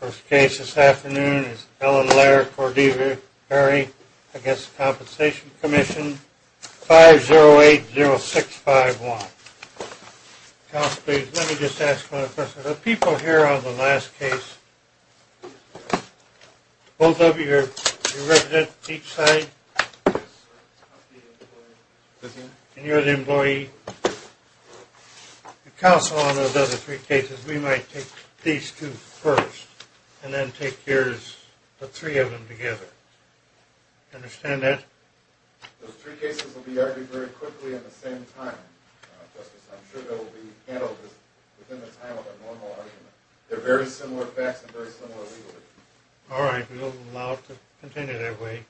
First case this afternoon is Ellen Laird-Cordivari v. The Workers' Compensation Commission, 5080651. Counsel, please, let me just ask one question. The people here on the last case, both of you are residents on each side, and you're the employee. Counsel, on those other three cases, we might take these two first, and then take yours, the three of them together. Understand that? Those three cases will be argued very quickly and at the same time, Justice. I'm sure they'll be handled within the time of a normal argument. They're very similar facts and very similar legal issues. All right, we'll allow it to continue that way.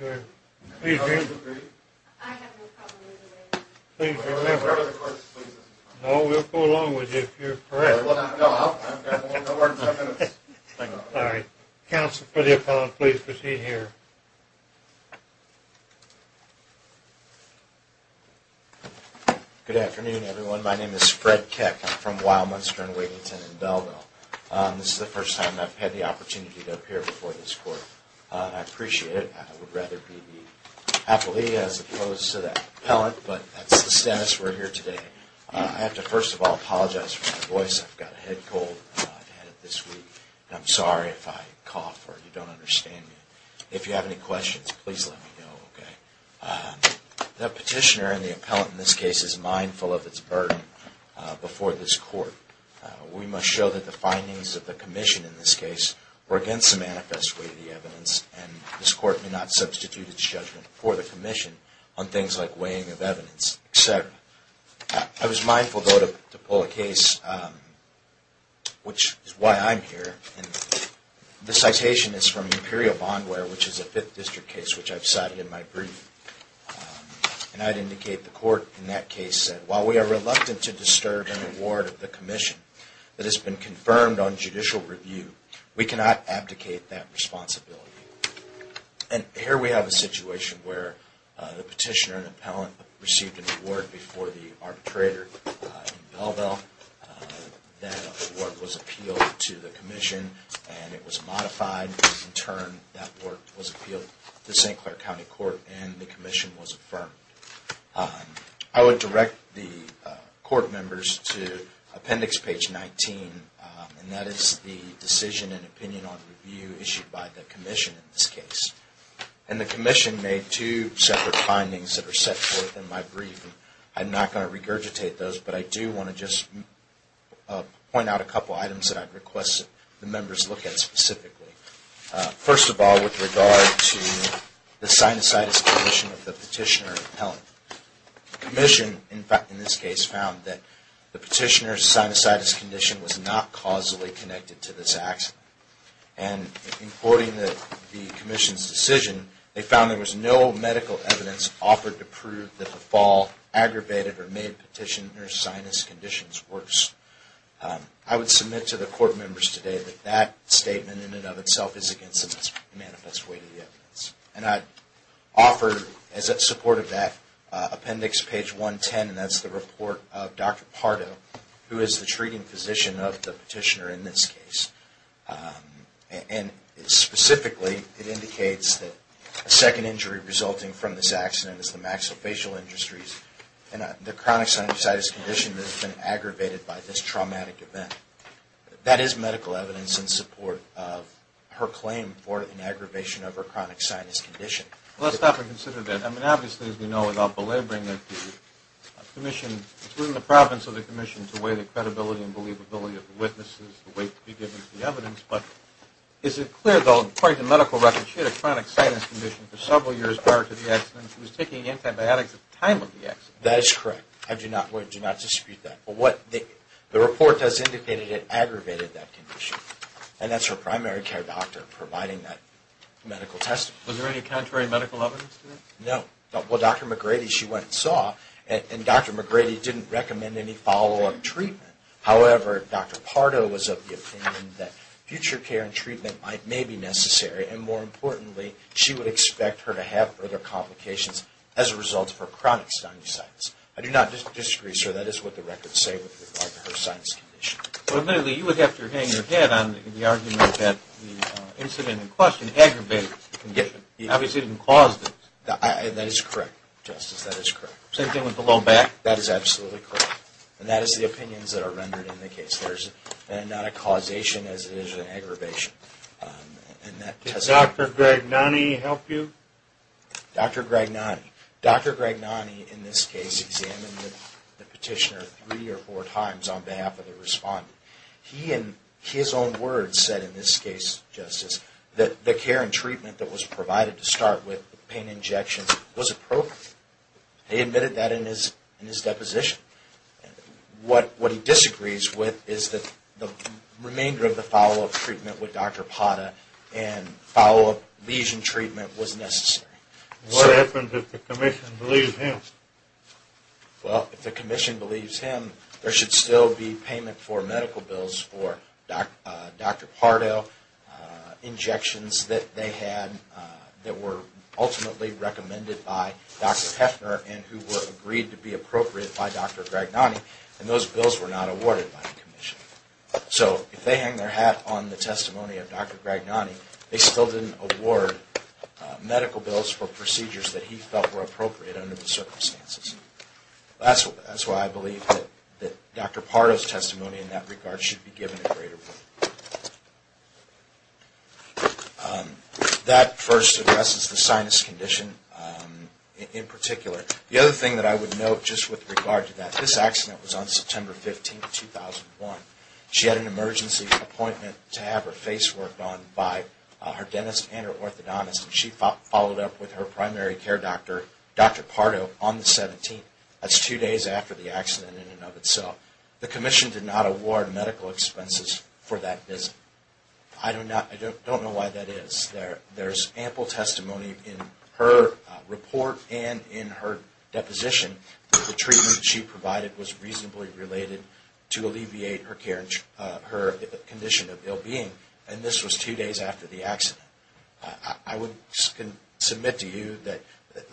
Do you agree? I have no problem with it. Please remember. No, we'll go along with you if you're correct. All right. Counsel, for the appellant, please proceed here. Good afternoon, everyone. My name is Fred Keck. I'm from Wildmonster and Wiginton in Belleville. This is the first time I've had the opportunity to appear before this court. I appreciate it. I would rather be the appellee as opposed to the appellant, but that's the status we're here today. I have to first of all apologize for my voice. I've got a head cold. I've had it this week. I'm sorry if I cough or you don't understand me. If you have any questions, please let me know, okay? The petitioner and the appellant in this case is mindful of its burden before this court. We must show that the findings of the commission in this case were against the manifest way of the evidence, and this court may not substitute its judgment for the commission on things like weighing of evidence, et cetera. I was mindful, though, to pull a case, which is why I'm here. The citation is from Imperial Bondware, which is a Fifth District case, which I've cited in my brief. And I'd indicate the court in that case said, While we are reluctant to disturb an award of the commission that has been confirmed on judicial review, we cannot abdicate that responsibility. And here we have a situation where the petitioner and appellant received an award before the arbitrator in Belleville. That award was appealed to the commission, and it was modified. In turn, that work was appealed to St. Clair County Court, and the commission was affirmed. I would direct the court members to appendix page 19, and that is the decision and opinion on review issued by the commission in this case. And the commission made two separate findings that are set forth in my brief, and I'm not going to regurgitate those, but I do want to just point out a couple items that I'd request the members look at specifically. First of all, with regard to the sinusitis condition of the petitioner and appellant. The commission, in this case, found that the petitioner's sinusitis condition was not causally connected to this accident. And in quoting the commission's decision, they found there was no medical evidence offered to prove that the fall aggravated or made petitioner's sinus conditions worse. I would submit to the court members today that that statement in and of itself is against the manifest weight of the evidence. And I'd offer, as a support of that, appendix page 110, and that's the report of Dr. Pardo, who is the treating physician of the petitioner in this case. And specifically, it indicates that a second injury resulting from this accident is the maxillofacial industries, and the chronic sinusitis condition has been aggravated by this traumatic event. That is medical evidence in support of her claim for an aggravation of her chronic sinus condition. Let's stop and consider that. I mean, obviously, as we know, without belaboring it, the commission, it's within the province of the commission to weigh the credibility and believability of the witnesses, the weight to be given to the evidence. But is it clear, though, according to medical records, she had a chronic sinus condition for several years prior to the accident, and she was taking antibiotics at the time of the accident? That is correct. I do not dispute that. The report does indicate that it aggravated that condition, and that's her primary care doctor providing that medical testimony. Was there any contrary medical evidence to that? No. Well, Dr. McGrady, she went and saw, and Dr. McGrady didn't recommend any follow-up treatment. However, Dr. Pardo was of the opinion that future care and treatment may be necessary, and more importantly, she would expect her to have further complications as a result of her chronic sinusitis. I do not disagree, sir. That is what the records say with regard to her sinus condition. But admittedly, you would have to hang your head on the argument that the incident in question aggravated the condition. It obviously didn't cause it. That is correct, Justice. That is correct. Same thing with the low back? That is absolutely correct. And that is the opinions that are rendered in the case. There is not a causation as it is an aggravation. Did Dr. Gragnani help you? Dr. Gragnani. Dr. Gragnani, in this case, examined the petitioner three or four times on behalf of the respondent. He, in his own words, said in this case, Justice, that the care and treatment that was provided to start with, pain injections, was appropriate. He admitted that in his deposition. What he disagrees with is that the remainder of the follow-up treatment with Dr. Pata and follow-up lesion treatment was necessary. What happens if the commission believes him? Well, if the commission believes him, there should still be payment for medical bills for Dr. Pardo, injections that they had that were ultimately recommended by Dr. Heffner and who were agreed to be appropriate by Dr. Gragnani, and those bills were not awarded by the commission. So if they hang their hat on the testimony of Dr. Gragnani, they still didn't award medical bills for procedures that he felt were appropriate under the circumstances. That's why I believe that Dr. Pardo's testimony in that regard should be given a greater weight. That first addresses the sinus condition in particular. The other thing that I would note just with regard to that, this accident was on September 15, 2001. She had an emergency appointment to have her face worked on by her dentist and her orthodontist, and she followed up with her primary care doctor, Dr. Pardo, on the 17th. That's two days after the accident in and of itself. The commission did not award medical expenses for that visit. I don't know why that is. There's ample testimony in her report and in her deposition that the treatment she provided was reasonably related to alleviate her condition of ill-being, and this was two days after the accident. I would submit to you that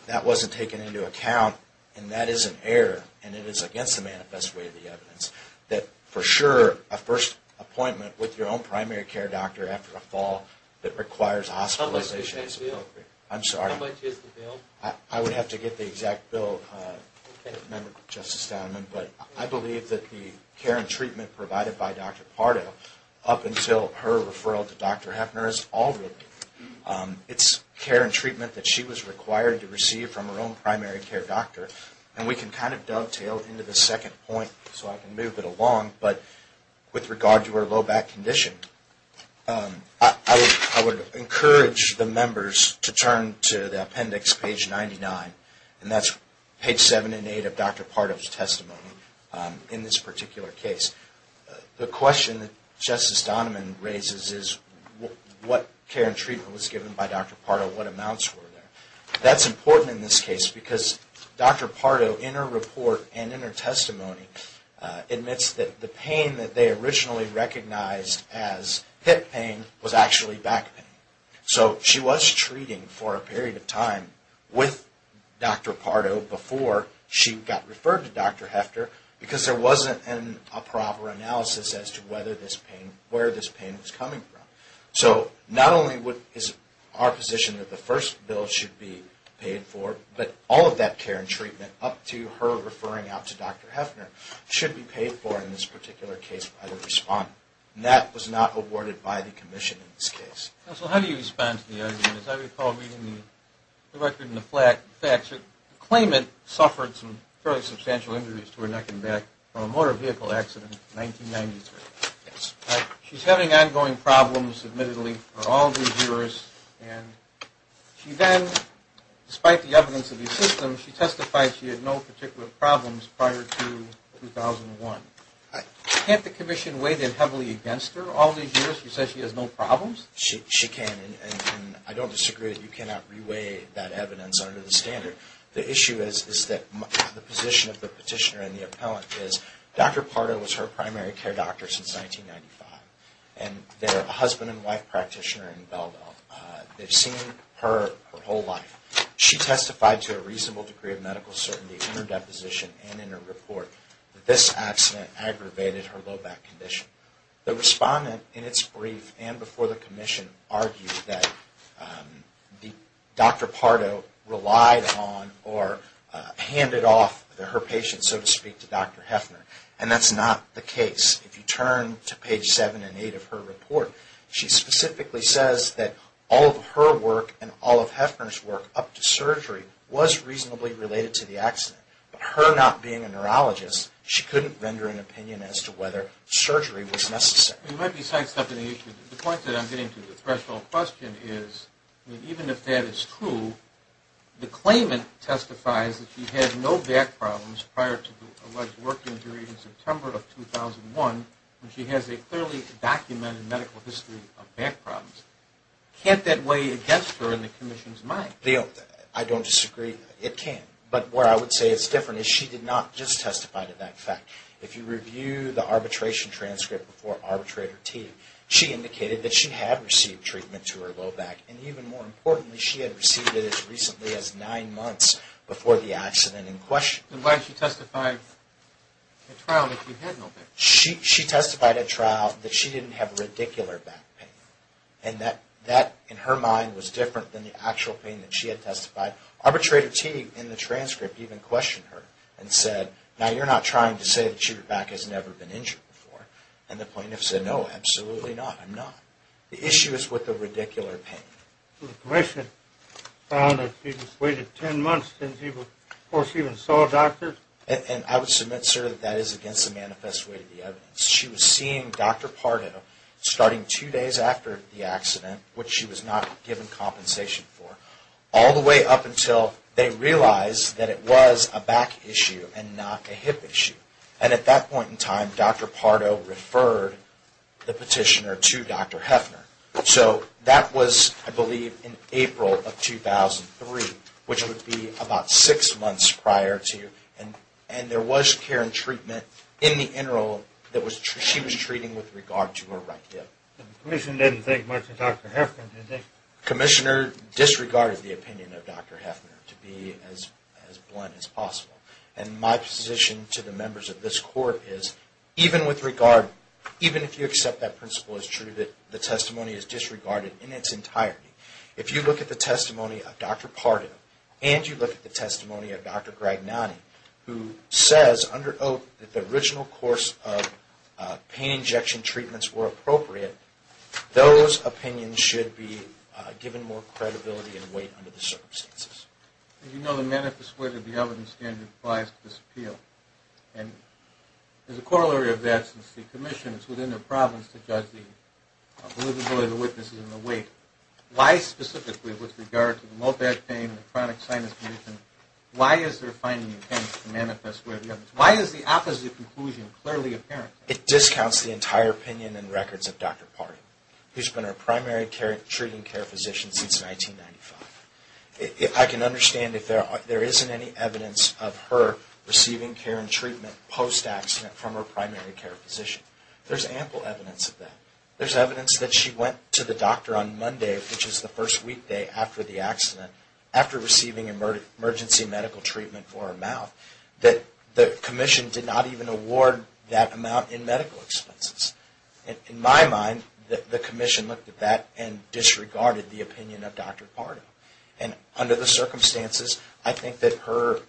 that wasn't taken into account, and that is an error, and it is against the manifest way of the evidence that for sure a first appointment with your own primary care doctor after a fall that requires hospitalization is appropriate. I'm sorry. How much is the bill? I would have to get the exact bill, Member Justice Donovan, but I believe that the care and treatment provided by Dr. Pardo up until her referral to Dr. Heffner is all real. It's care and treatment that she was required to receive from her own primary care doctor, and we can kind of dovetail into the second point so I can move it along, but with regard to her low back condition, I would encourage the members to turn to the appendix page 99, and that's page 7 and 8 of Dr. Pardo's testimony in this particular case. The question that Justice Donovan raises is what care and treatment was given by Dr. Pardo, what amounts were there. That's important in this case because Dr. Pardo, in her report and in her testimony, admits that the pain that they originally recognized as hip pain was actually back pain. So she was treating for a period of time with Dr. Pardo before she got referred to Dr. Heffner because there wasn't a proper analysis as to where this pain was coming from. So not only is our position that the first bill should be paid for, but all of that care and treatment up to her referring out to Dr. Heffner should be paid for in this particular case by the respondent, and that was not awarded by the commission in this case. Counsel, how do you respond to the argument? As I recall reading the record and the facts, the claimant suffered some fairly substantial injuries to her neck and back from a motor vehicle accident in 1993. She's having ongoing problems, admittedly, for all these years, and she then, despite the evidence of the system, she testified she had no particular problems prior to 2001. Can't the commission weigh that heavily against her? All these years she says she has no problems? She can, and I don't disagree that you cannot re-weigh that evidence under the standard. The issue is that the position of the petitioner and the appellant is Dr. Pardo was her primary care doctor, and their husband and wife practitioner in Belleville. They've seen her her whole life. She testified to a reasonable degree of medical certainty in her deposition and in her report that this accident aggravated her low back condition. The respondent in its brief and before the commission argued that Dr. Pardo relied on or handed off her patients, so to speak, to Dr. Heffner, and that's not the case. If you turn to page 7 and 8 of her report, she specifically says that all of her work and all of Heffner's work up to surgery was reasonably related to the accident, but her not being a neurologist, she couldn't render an opinion as to whether surgery was necessary. You might be sidestepping the issue. The point that I'm getting to, the threshold question, is even if that is true, the claimant testifies that she had no back problems prior to the alleged work injury in September of 2001, and she has a clearly documented medical history of back problems. Can't that weigh against her in the commission's mind? I don't disagree. It can, but where I would say it's different is she did not just testify to that fact. If you review the arbitration transcript before Arbitrator T, she indicated that she had received treatment to her low back, and even more importantly, she had received it as recently as nine months before the accident in question. And why did she testify at trial that she had no back? She testified at trial that she didn't have radicular back pain, and that in her mind was different than the actual pain that she had testified. Arbitrator T, in the transcript, even questioned her and said, now you're not trying to say that your back has never been injured before, and the plaintiff said, no, absolutely not, I'm not. The issue is with the radicular pain. The commission found that she just waited 10 months before she even saw a doctor. And I would submit, sir, that that is against the manifest way of the evidence. She was seeing Dr. Pardo starting two days after the accident, which she was not given compensation for, all the way up until they realized that it was a back issue and not a hip issue. And at that point in time, Dr. Pardo referred the petitioner to Dr. Heffner. So that was, I believe, in April of 2003, which would be about six months prior to, and there was care and treatment in the internal that she was treating with regard to her right hip. The commission didn't think much of Dr. Heffner, did they? The commissioner disregarded the opinion of Dr. Heffner to be as blunt as possible. And my position to the members of this court is, even with regard, even if you accept that principle is true, that the testimony is disregarded in its entirety. If you look at the testimony of Dr. Pardo, and you look at the testimony of Dr. Gragnani, who says under oath that the original course of pain injection treatments were appropriate, those opinions should be given more credibility and weight under the circumstances. As you know, the manifest way of the evidence standard applies to this appeal. And there's a corollary of that since the commission is within their province to judge the believability of the witnesses and the weight. Why specifically with regard to the low back pain and the chronic sinus condition, why is there a fine intention to manifest way of the evidence? Why is the opposite conclusion clearly apparent? It discounts the entire opinion and records of Dr. Pardo, who's been our primary treating care physician since 1995. I can understand if there isn't any evidence of her receiving care and treatment post-accident from her primary care physician. There's ample evidence of that. There's evidence that she went to the doctor on Monday, which is the first weekday after the accident, after receiving emergency medical treatment for her mouth, that the commission did not even award that amount in medical expenses. In my mind, the commission looked at that and disregarded the opinion of Dr. Pardo. And under the circumstances, I think that her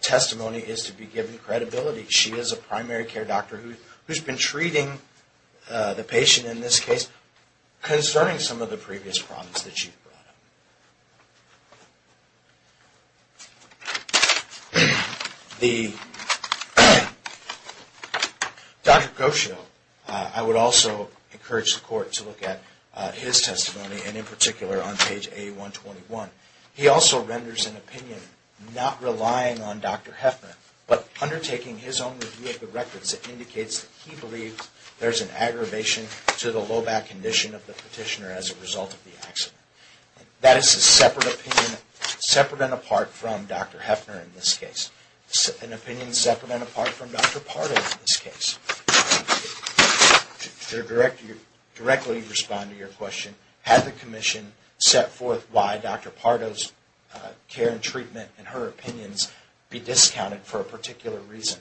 testimony is to be given credibility. She is a primary care doctor who's been treating the patient in this case, concerning some of the previous problems that she's brought up. Dr. Groschio, I would also encourage the court to look at his testimony, and in particular on page A121. He also renders an opinion, not relying on Dr. Heffner, but undertaking his own review of the records that indicates that he believes there's an aggravation to the low back condition of the petitioner as a result of the accident. That is significant. This is a separate opinion, separate and apart from Dr. Heffner in this case. An opinion separate and apart from Dr. Pardo in this case. To directly respond to your question, had the commission set forth why Dr. Pardo's care and treatment and her opinions be discounted for a particular reason,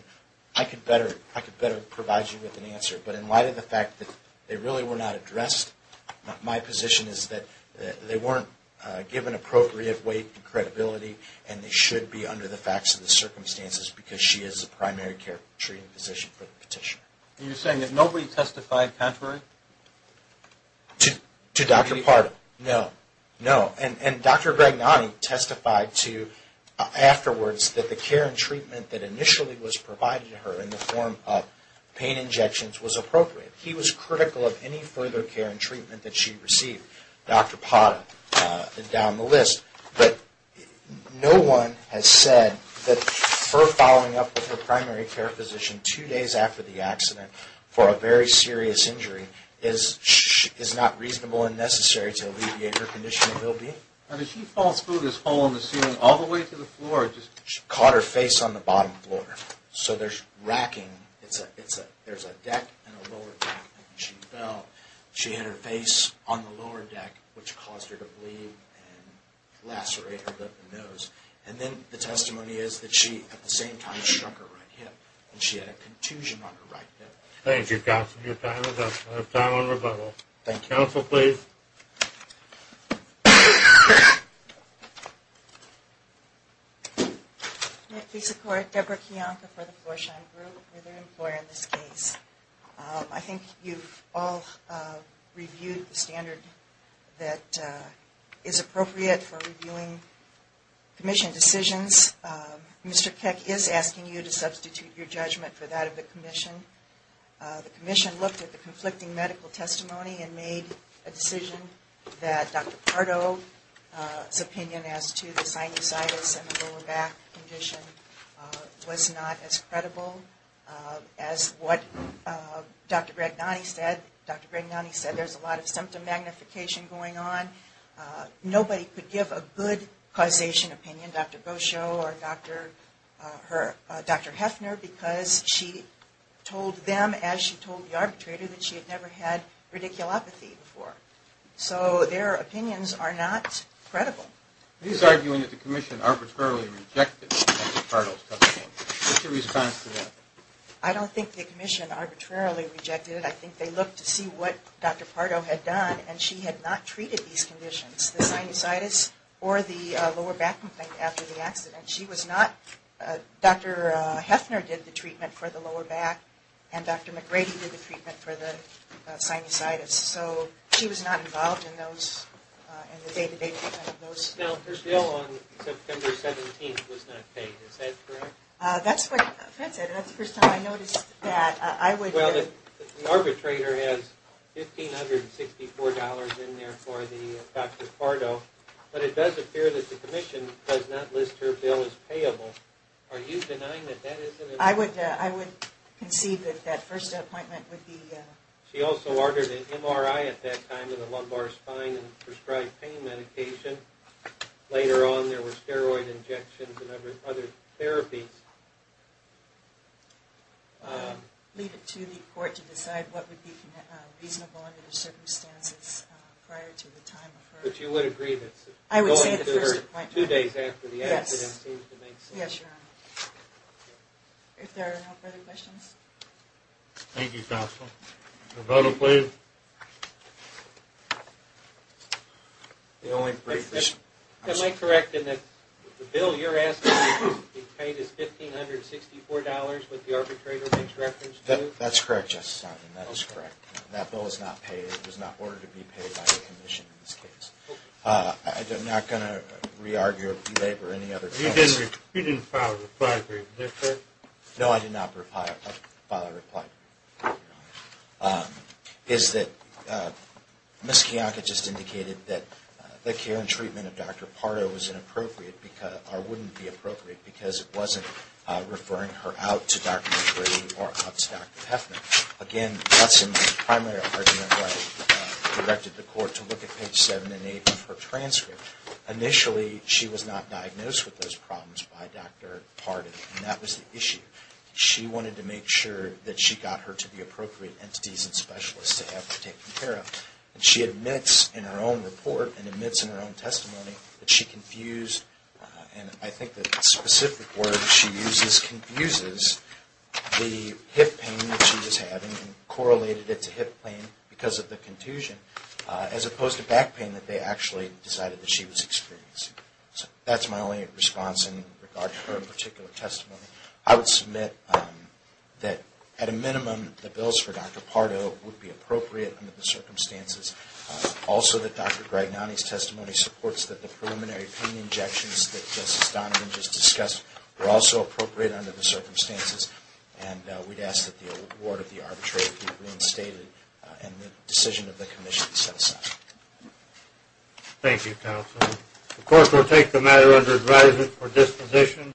I could better provide you with an answer. But in light of the fact that they really were not addressed, my position is that they weren't given appropriate weight and credibility, and they should be under the facts of the circumstances, because she is a primary care treating physician for the petitioner. You're saying that nobody testified contrary? To Dr. Pardo? No. No. And Dr. Gragnani testified afterwards that the care and treatment that initially was provided to her in the form of pain injections was appropriate. He was critical of any further care and treatment that she received. Dr. Pardo down the list. But no one has said that her following up with her primary care physician two days after the accident for a very serious injury is not reasonable and necessary to alleviate her condition of well-being? I mean, she falls through this hole in the ceiling all the way to the floor. She caught her face on the bottom floor. So there's racking. There's a deck and a lower deck. She fell. She hit her face on the lower deck, which caused her to bleed and lacerate her nose. And then the testimony is that she at the same time struck her right hip, and she had a contusion on her right hip. Thank you, Counsel. Your time is up. Time on rebuttal. Counsel, please. Please support Deborah Kiyonka for the Floor Shine Group. We're their employer in this case. I think you've all reviewed the standard that is appropriate for reviewing commission decisions. Mr. Keck is asking you to substitute your judgment for that of the commission. The commission looked at the conflicting medical testimony and made a decision that Dr. Pardo's opinion as to the sinusitis and the lower back condition was not as credible as what Dr. Bregnani said. Dr. Bregnani said there's a lot of symptom magnification going on. Nobody could give a good causation opinion, Dr. Bosho or Dr. Heffner, because she told them as she told the arbitrator that she had never had radiculopathy before. So their opinions are not credible. He's arguing that the commission arbitrarily rejected Dr. Pardo's testimony. What's your response to that? I don't think the commission arbitrarily rejected it. I think they looked to see what Dr. Pardo had done, and she had not treated these conditions, the sinusitis or the lower back after the accident. Dr. Heffner did the treatment for the lower back, and Dr. McGrady did the treatment for the sinusitis. So she was not involved in the day-to-day treatment of those. Now, her bill on September 17th was not paid. Is that correct? That's what Fred said, and that's the first time I noticed that. Well, the arbitrator has $1,564 in there for Dr. Pardo, but it does appear that the commission does not list her bill as payable. Are you denying that that is an appointment? I would concede that that first appointment would be… She also ordered an MRI at that time of the lumbar spine and prescribed pain medication. Later on, there were steroid injections and other therapies. I'll leave it to the court to decide what would be reasonable under the circumstances prior to the time of her… But you would agree that going to her two days after the accident seems to make sense? Yes, Your Honor. If there are no further questions. Thank you, counsel. Your vote, please. The only brief… Am I correct in that the bill you're asking to be paid is $1,564, what the arbitrator makes reference to? That's correct, Justice Sondland. That is correct. That bill is not paid. It was not ordered to be paid by the commission in this case. I'm not going to re-argue or belabor any other comments. You didn't file a reply to her, did you, sir? No, I did not file a reply to her, Your Honor. It's that Ms. Kiyaka just indicated that the care and treatment of Dr. Pardo was inappropriate, or wouldn't be appropriate, because it wasn't referring her out to Dr. McGrady or out to Dr. Peffman. Again, that's a primary argument why we directed the court to look at page 7 and 8 of her transcript. Initially, she was not diagnosed with those problems by Dr. Pardo, and that was the issue. She wanted to make sure that she got her to the appropriate entities and specialists to have her taken care of. She admits in her own report and admits in her own testimony that she confused, and I think the specific word she uses confuses, the hip pain that she was having and correlated it to hip pain because of the contusion, as opposed to back pain that they actually decided that she was experiencing. That's my only response in regard to her particular testimony. I would submit that, at a minimum, the bills for Dr. Pardo would be appropriate under the circumstances. Also, that Dr. Gragnani's testimony supports that the preliminary pain injections that Justice Donovan just discussed were also appropriate under the circumstances, and we'd ask that the award of the arbitrary be reinstated and the decision of the commission be set aside. Thank you, counsel. The court will take the matter under advisement for disposition.